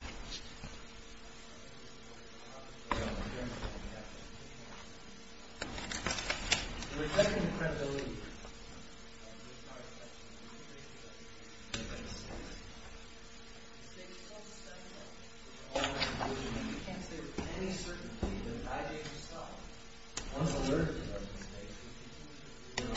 The second credibility of this article is that it is called the study of all conclusions. We can't say with any certainty that I, David Starr, was alert to those mistakes.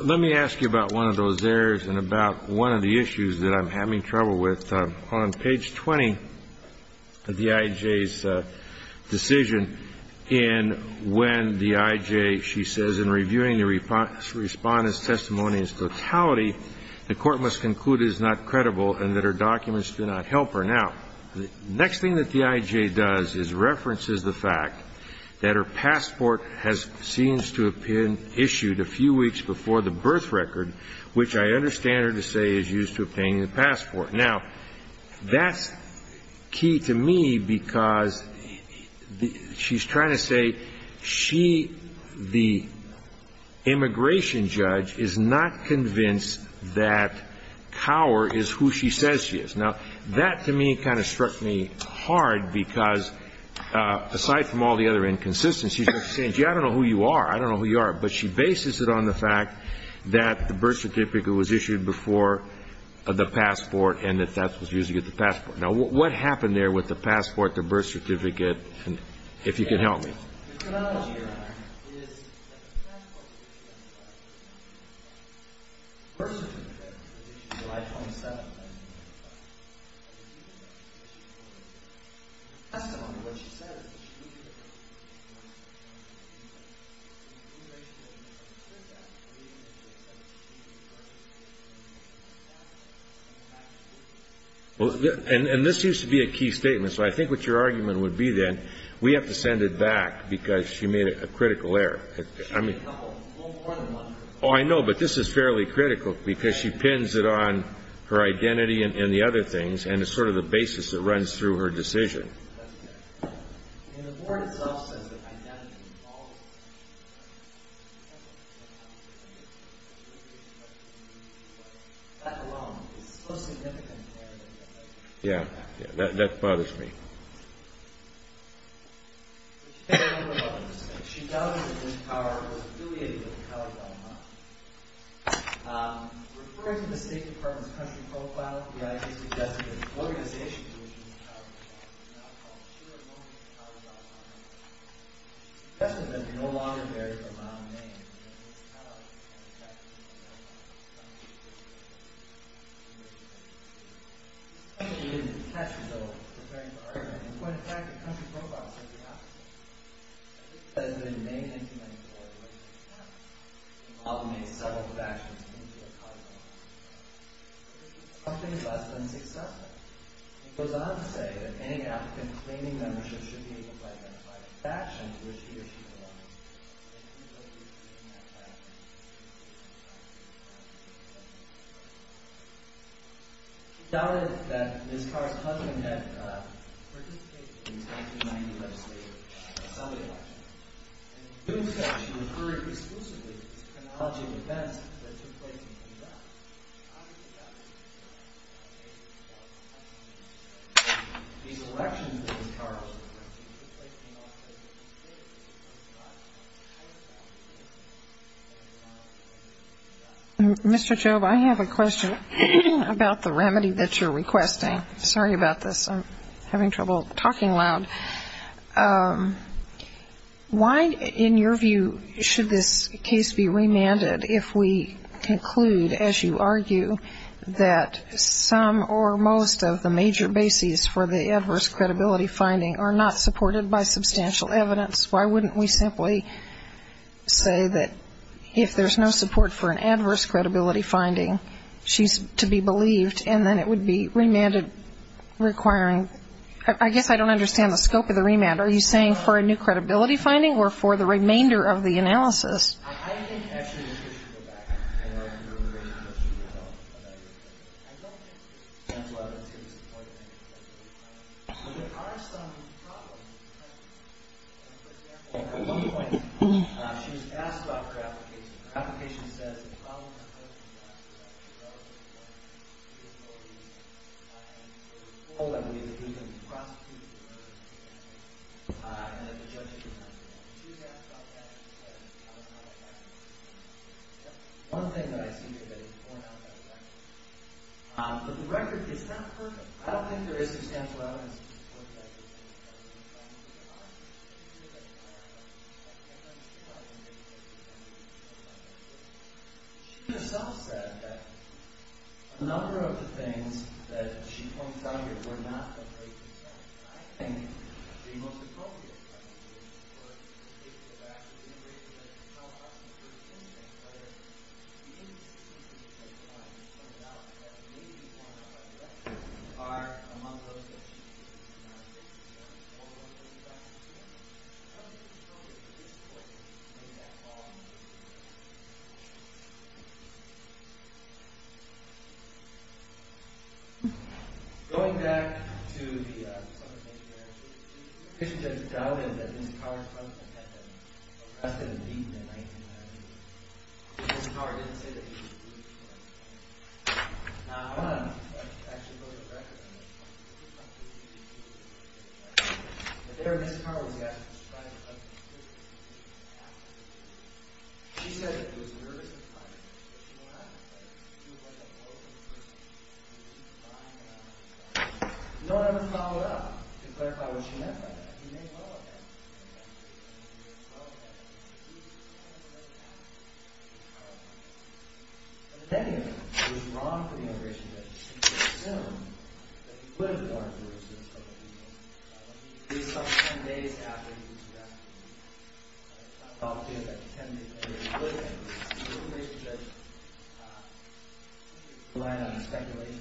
Let me ask you about one of those errors and about one of the issues that I'm having trouble with. On page 20 of the IJ's decision, in when the IJ, she says, in reviewing the Respondent's testimony in its totality, the Court must conclude it is not credible and that her documents do not help her. Now, the next thing that the IJ does is references the fact that her passport seems to have been issued a few weeks before the birth record, which I understand her to say is used to obtain the passport. Now, that's key to me because she's trying to say she, the immigration judge, is not convinced that Kaur is who she says she is. Now, that to me kind of struck me hard because, aside from all the other inconsistencies, she's saying, gee, I don't know who you are, I don't know who you are. But she bases it on the fact that the birth certificate was issued before the passport and that that was used to get the passport. Now, what happened there with the passport, the birth certificate, if you can help me? Well, and this used to be a key statement, so I think what your argument would be then, we have to send it back. Because she made a critical error. Oh, I know, but this is fairly critical because she pins it on her identity and the other things, and it's sort of the basis that runs through her decision. Yeah, that bothers me. So she made a little mistake. She doubted that Ms. Kaur was affiliated with the Kaur government. Referring to the State Department's country profile, the IG suggested that the organization to which Ms. Kaur belonged was now called Shearer-Lohman-Kaur. She suggested that there would no longer be a round name in Ms. Kaur's name. The State Department's country profile said the opposite. It said that in May 1994, Ms. Kaur had been involved in several factions within the Kaur government. This was something less than successful. It goes on to say that any applicant claiming membership should be able to identify the factions in which he or she belongs. She doubted that Ms. Kaur's husband had participated in the 1990 legislative assembly election. And in doing so, she referred exclusively to chronology of events that took place in New York. These elections that Ms. Kaur was involved in took place in New York State. Mr. Job, I have a question about the remedy that you're requesting. Sorry about this. I'm having trouble talking loud. Why, in your view, should this case be remanded if we conclude, as you argue, that some or most of the major bases for the adverse credibility finding are not supported by substantial evidence? Why wouldn't we simply say that if there's no support for an adverse credibility finding, she's to be believed, and then it would be remanded, requiring? I guess I don't understand the scope of the remand. Are you saying for a new credibility finding or for the remainder of the analysis? I think, actually, we should go back. I know you're raising a question about your case. I don't answer it. That's why I don't see this as a point to make. But there are some problems. For example, at one point, she was asked about her application. Her application says the problem that I'm looking at is that she doesn't believe that. And there were four other ways that we could prosecute her, and that the judges were not. She was asked about that, and she said, I was not affected. That's one thing that I see here that is born out of that fact. But the record is not perfect. I don't think there is substantial evidence to support that. She herself said that a number of the things that she pointed out here were not the case itself. I think the most appropriate question is, of course, if the fact that you raised the question of self-harm in the first instance, whether the individuals that you identified and pointed out had a major form of self-harm are among those that you think are not a case, and there are four of them in the back of the room. How do you feel that, at this point, you've made that call? Going back to the Summertime Marriage case, she just doubted that Ms. Carr had been arrested and beaten in 1990. Ms. Carr didn't say that she was beaten. Now, I want to actually go to the record. There, Ms. Carr was asked to describe the substance of her testimony. She said that she was nervous and frightened, but she didn't have to say that. She was like a broken person. No one ever followed up to clarify what she meant by that. She made all of that. Ms. Carr said that she was nervous and frightened, but she didn't have to say that. The second thing that was wrong for the immigration judge was to assume that he would have gone through with his testimony. He saw 10 days after he was arrested. I thought, you know, that 10 days later he would have. The immigration judge relied on speculation.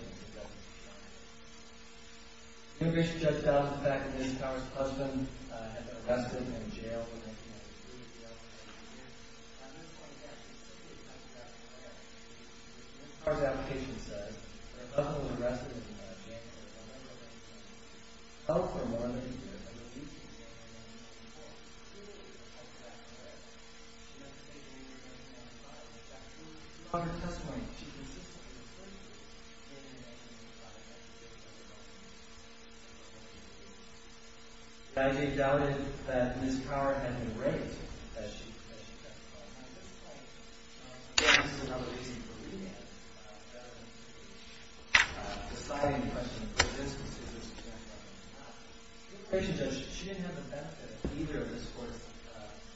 The immigration judge found the fact that Ms. Carr's husband had been arrested and jailed in 1993. At this point, he actually said that he had come back from Iraq. Ms. Carr's application says that her husband was arrested and jailed in November of 1996. Oh, for more than a year. I believe she was jailed for more than a year. She clearly had come back from Iraq. She made the case that she had come back from Iraq. On her testimony, she consistently explained that she came back from Iraq and that she did come back from Iraq. The IJ doubted that Ms. Carr had been raped, as she testified. This is another reason for re-evaluation. The deciding question for this was to see if this was true or not. The immigration judge, she didn't have the benefit of either of the reports.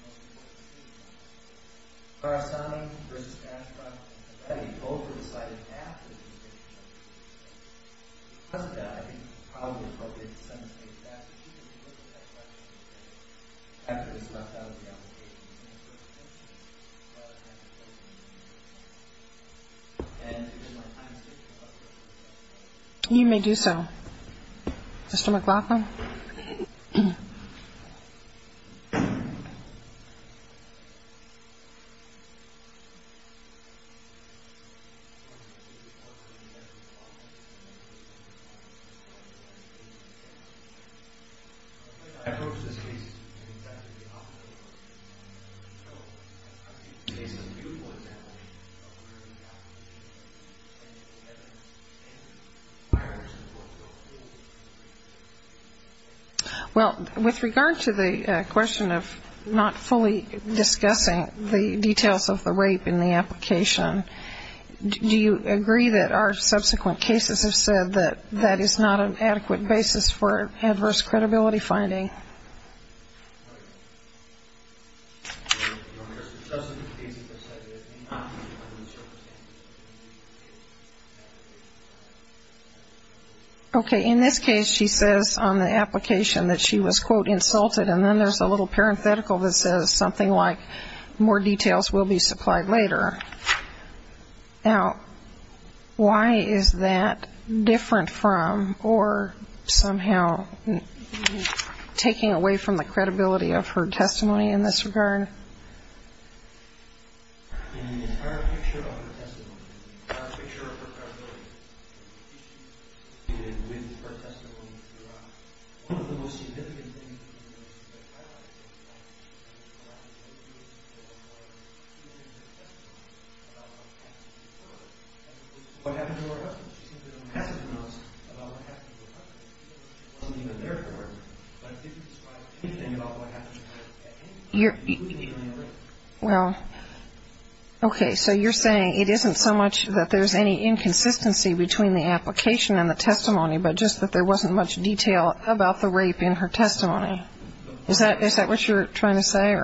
Ms. Carr's son versus Ashcroft, I think both were decided after the investigation. Because of that, I think it's probably appropriate to simulcrate that. After this left out of the application, Ms. Carr's son versus Ashcroft, and if there's more time, Ms. Carr's son versus Ashcroft. You may do so. Mr. McLaughlin? Well, with regard to the question of not fully discussing the details of the rape in the application, do you agree that our subsequent cases have said that that is not an adequate basis for adverse credibility finding? Okay. In this case, she says on the application that she was, quote, insulted, and then there's a little parenthetical that says something like, more details will be supplied later. Now, why is that different from, or somehow taking away from the credibility of her testimony in this regard? In the entire picture of her testimony, in the entire picture of her credibility, she did with her testimony throughout, one of the most significant things in the investigation that I highlighted in the application was that she didn't give her testimony about what happened to her husband. What happened to her husband? She simply doesn't have to tell us about what happened to her husband. It wasn't even there for her, but it didn't describe anything about what happened to her husband. Well, okay. So you're saying it isn't so much that there's any inconsistency between the application and the testimony, but just that there wasn't much detail about the rape in her testimony. Is that what you're trying to say?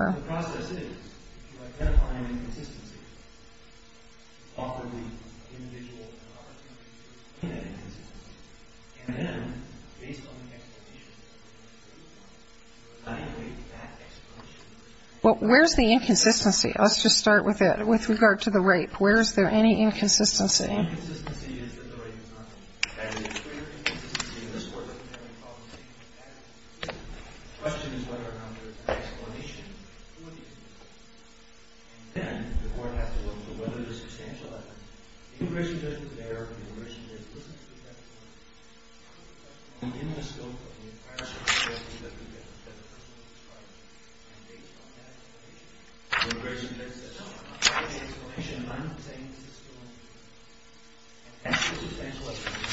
Well, where's the inconsistency? Let's just start with it, with regard to the rape. Where is there any inconsistency? Then, the court has to look for whether there's substantial evidence. The immigration judge was there, and the immigration judge listened to the testimony. The immigration judge was there, and the immigration judge listened to the testimony. On the endoscope of the entire story, the evidence that the person was describing, and based on that information, the immigration judge said, No, I'm not saying this is still a lie. And that's why there's substantial evidence,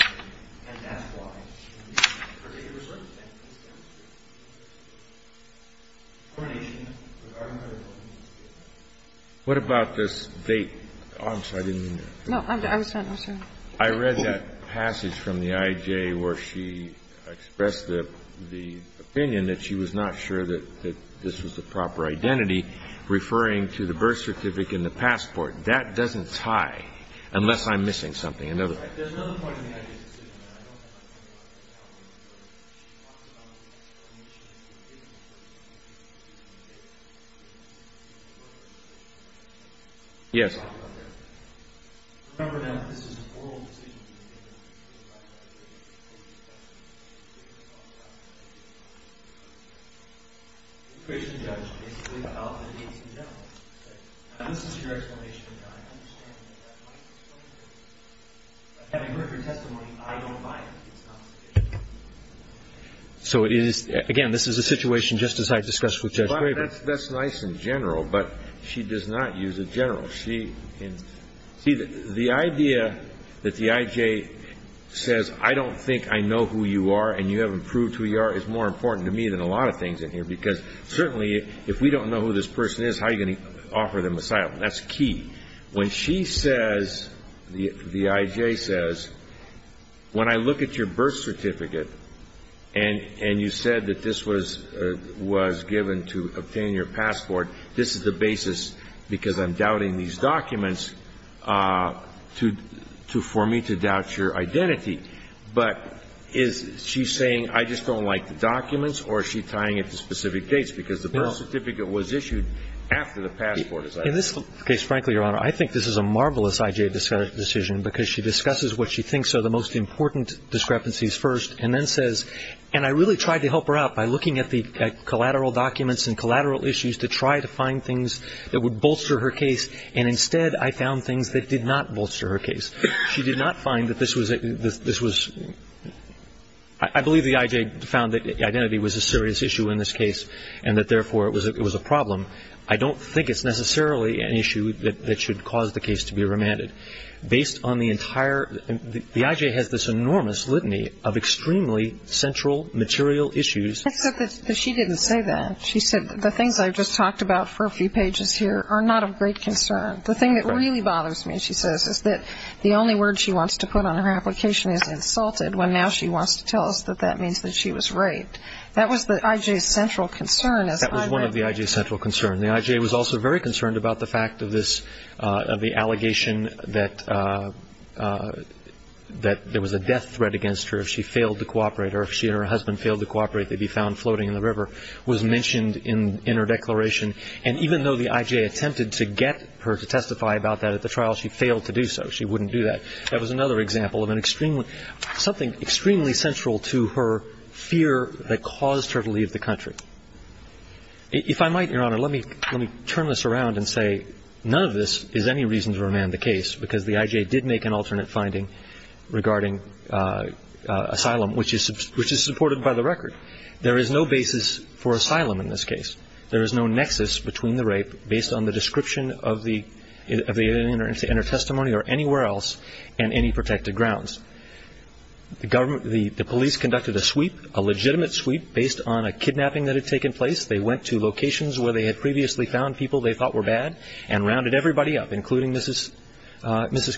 and that's why she was convicted of a certain crime. What about this date? Oh, I'm sorry. I didn't mean that. No, I'm sorry. I read that passage from the IJ where she expressed the opinion that she was not sure that this was the proper identity, referring to the birth certificate and the passport. That doesn't tie, unless I'm missing something. There's another point in the IJ's decision, and I don't have time to go into that one, but she talks about the explanation of the date, and the birth certificate, and the birth certificate. Yes. Remember, now, that this is a moral decision to be made, and that's why the IJ made it clear that the date was not valid. The immigration judge basically allowed the dates in general. This is your explanation, and I understand that. Having heard your testimony, I don't buy it. So it is – again, this is a situation just as I discussed with Judge Graber. Well, that's nice in general, but she does not use it general. She – see, the idea that the IJ says, I don't think I know who you are and you haven't proved who you are, is more important to me than a lot of things in here. Because certainly if we don't know who this person is, how are you going to offer them asylum? That's key. When she says – the IJ says, when I look at your birth certificate and you said that this was given to obtain your passport, this is the basis because I'm doubting these documents for me to doubt your identity. But is she saying, I just don't like the documents, or is she tying it to specific dates because the birth certificate was issued after the passport was issued? In this case, frankly, Your Honor, I think this is a marvelous IJ decision because she discusses what she thinks are the most important discrepancies first and then says – and I really tried to help her out by looking at the collateral documents and collateral issues to try to find things that would bolster her case, and instead I found things that did not bolster her case. She did not find that this was – I believe the IJ found that identity was a serious issue in this case and that therefore it was a problem. I don't think it's necessarily an issue that should cause the case to be remanded. Based on the entire – the IJ has this enormous litany of extremely central material issues. Except that she didn't say that. She said the things I just talked about for a few pages here are not of great concern. The thing that really bothers me, she says, is that the only word she wants to put on her application is insulted, when now she wants to tell us that that means that she was raped. That was the IJ's central concern. That was one of the IJ's central concerns. The IJ was also very concerned about the fact of this – of the allegation that there was a death threat against her if she failed to cooperate or if she and her husband failed to cooperate, they'd be found floating in the river, was mentioned in her declaration. And even though the IJ attempted to get her to testify about that at the trial, she failed to do so. She wouldn't do that. That was another example of an extremely – something extremely central to her fear that caused her to leave the country. If I might, Your Honor, let me turn this around and say none of this is any reason to remand the case because the IJ did make an alternate finding regarding asylum, which is supported by the record. There is no basis for asylum in this case. There is no nexus between the rape based on the description of the – in her testimony or anywhere else and any protected grounds. The government – the police conducted a sweep, a legitimate sweep, based on a kidnapping that had taken place. They went to locations where they had previously found people they thought were bad and rounded everybody up, including Mrs.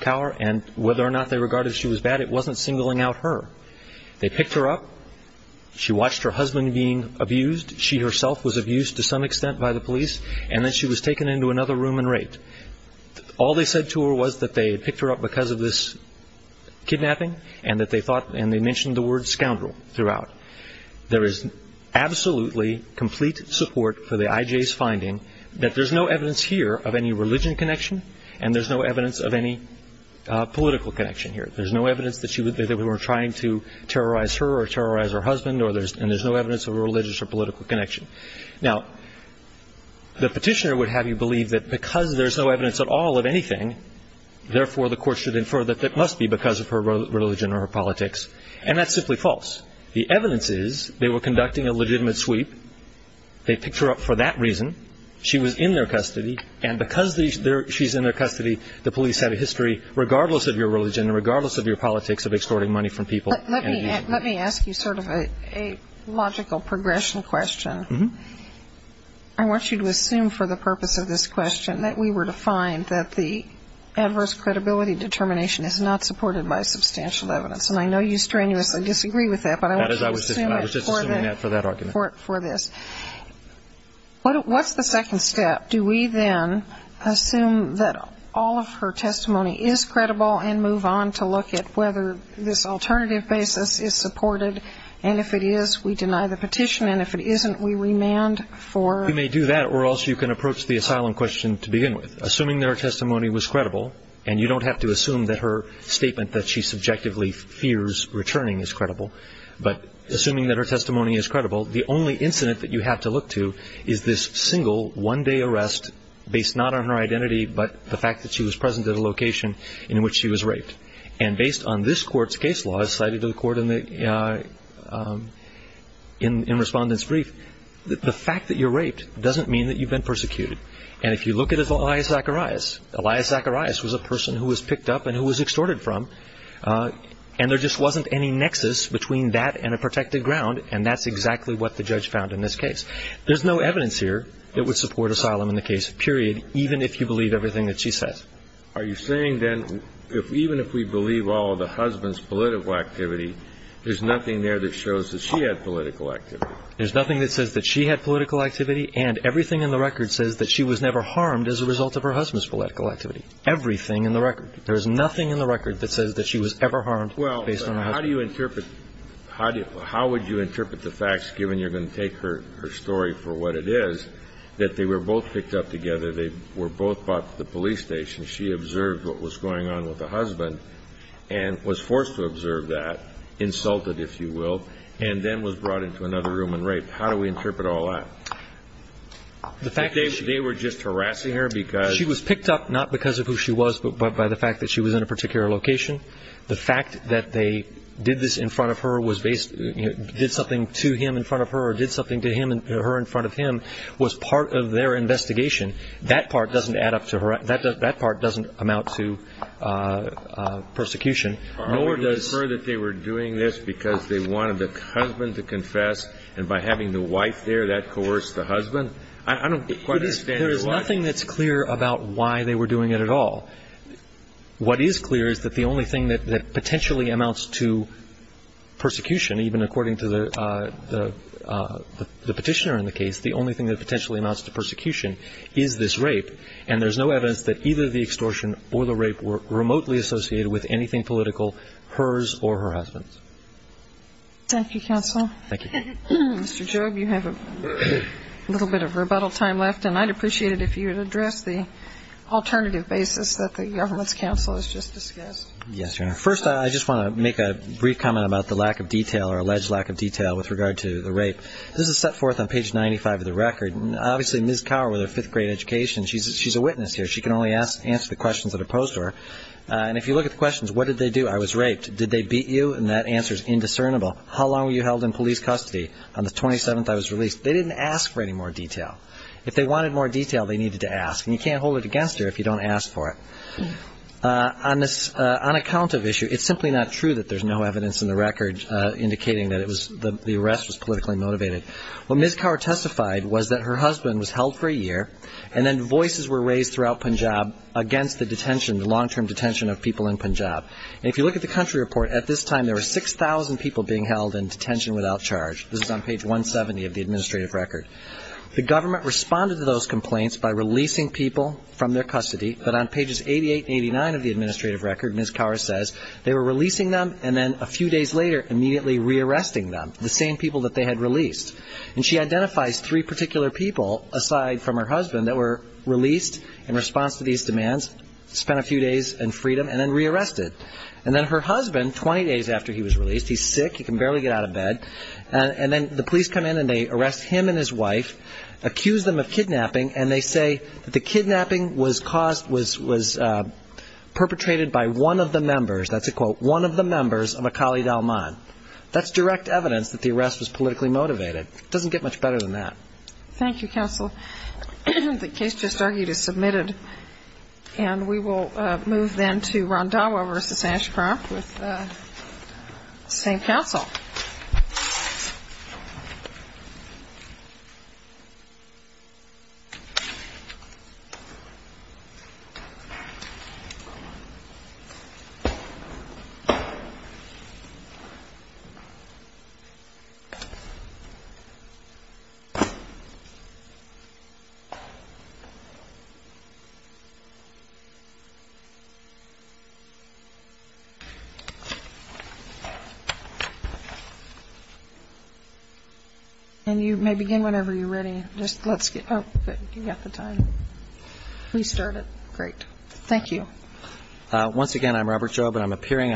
Cower, and whether or not they regarded she was bad, it wasn't singling out her. They picked her up. She watched her husband being abused. She herself was abused to some extent by the police, and then she was taken into another room and raped. All they said to her was that they had picked her up because of this kidnapping and that they thought – and they mentioned the word scoundrel throughout. There is absolutely complete support for the IJ's finding that there's no evidence here of any religion connection and there's no evidence of any political connection here. There's no evidence that she would – that they were trying to terrorize her or terrorize her husband or there's – and there's no evidence of a religious or political connection. Now, the Petitioner would have you believe that because there's no evidence at all of anything, therefore, the court should infer that it must be because of her religion or her politics. And that's simply false. The evidence is they were conducting a legitimate sweep. They picked her up for that reason. She was in their custody. And because she's in their custody, the police have a history, regardless of your religion and regardless of your politics, of extorting money from people. Let me ask you sort of a logical progression question. I want you to assume for the purpose of this question that we were to find that the adverse credibility determination is not supported by substantial evidence. And I know you strenuously disagree with that, but I want you to assume it for this. I was just assuming that for that argument. What's the second step? Do we then assume that all of her testimony is credible and move on to look at whether this alternative basis is supported? And if it is, we deny the petition. And if it isn't, we remand for it. You may do that, or also you can approach the asylum question to begin with. Assuming that her testimony was credible, and you don't have to assume that her statement that she subjectively fears returning is credible, but assuming that her testimony is credible, the only incident that you have to look to is this single one-day arrest based not on her identity but the fact that she was present at a location in which she was raped. And based on this court's case law, as cited to the court in Respondent's Brief, the fact that you're raped doesn't mean that you've been persecuted. And if you look at Elias Zacharias, Elias Zacharias was a person who was picked up and who was extorted from, and there just wasn't any nexus between that and a protected ground, and that's exactly what the judge found in this case. There's no evidence here that would support asylum in the case, period, even if you believe everything that she says. Are you saying, then, even if we believe all of the husband's political activity, there's nothing there that shows that she had political activity? There's nothing that says that she had political activity, and everything in the record says that she was never harmed as a result of her husband's political activity. Everything in the record. There is nothing in the record that says that she was ever harmed based on her husband. Well, how do you interpret the facts, given you're going to take her story for what it is, that they were both picked up together, they were both brought to the police station, she observed what was going on with the husband, and was forced to observe that, insulted, if you will, and then was brought into another room and raped. How do we interpret all that? The fact that she... That they were just harassing her because... She was picked up not because of who she was, but by the fact that she was in a particular location. The fact that they did this in front of her, did something to him in front of her, or did something to her in front of him, was part of their investigation. That part doesn't add up to harassment. That part doesn't amount to persecution. Nor does... Are we to infer that they were doing this because they wanted the husband to confess, and by having the wife there, that coerced the husband? I don't quite understand why... There's nothing that's clear about why they were doing it at all. What is clear is that the only thing that potentially amounts to persecution, even according to the petitioner in the case, the only thing that potentially amounts to persecution is this rape, and there's no evidence that either the extortion or the rape were remotely associated with anything political, hers or her husband's. Thank you, counsel. Thank you. Mr. Jobe, you have a little bit of rebuttal time left, and I'd appreciate it if you would address the alternative basis that the government's counsel has just discussed. Yes, Your Honor. First, I just want to make a brief comment about the lack of detail or alleged lack of detail with regard to the rape. This is set forth on page 95 of the record. Obviously, Ms. Cower with her fifth-grade education, she's a witness here. She can only answer the questions that are posed to her. And if you look at the questions, what did they do? I was raped. Did they beat you? And that answer is indiscernible. How long were you held in police custody? On the 27th, I was released. They didn't ask for any more detail. If they wanted more detail, they needed to ask. And you can't hold it against her if you don't ask for it. On account of issue, it's simply not true that there's no evidence in the record indicating that the arrest was politically motivated. What Ms. Cower testified was that her husband was held for a year, and then voices were raised throughout Punjab against the detention, the long-term detention of people in Punjab. And if you look at the country report, at this time there were 6,000 people being held in detention without charge. This is on page 170 of the administrative record. The government responded to those complaints by releasing people from their custody, but on pages 88 and 89 of the administrative record, Ms. Cower says, they were releasing them and then a few days later immediately re-arresting them, the same people that they had released. And she identifies three particular people aside from her husband that were released in response to these demands, spent a few days in freedom, and then re-arrested. And then her husband, 20 days after he was released, he's sick, he can barely get out of bed, and then the police come in and they arrest him and his wife, accuse them of kidnapping, and they say that the kidnapping was caused, was perpetrated by one of the members, that's a quote, one of the members of a Kali Dalman. That's direct evidence that the arrest was politically motivated. It doesn't get much better than that. Thank you, Counsel. The case just argued is submitted, and we will move then to Rondawa v. Ashcroft with the same counsel. And you may begin whenever you're ready. Thank you.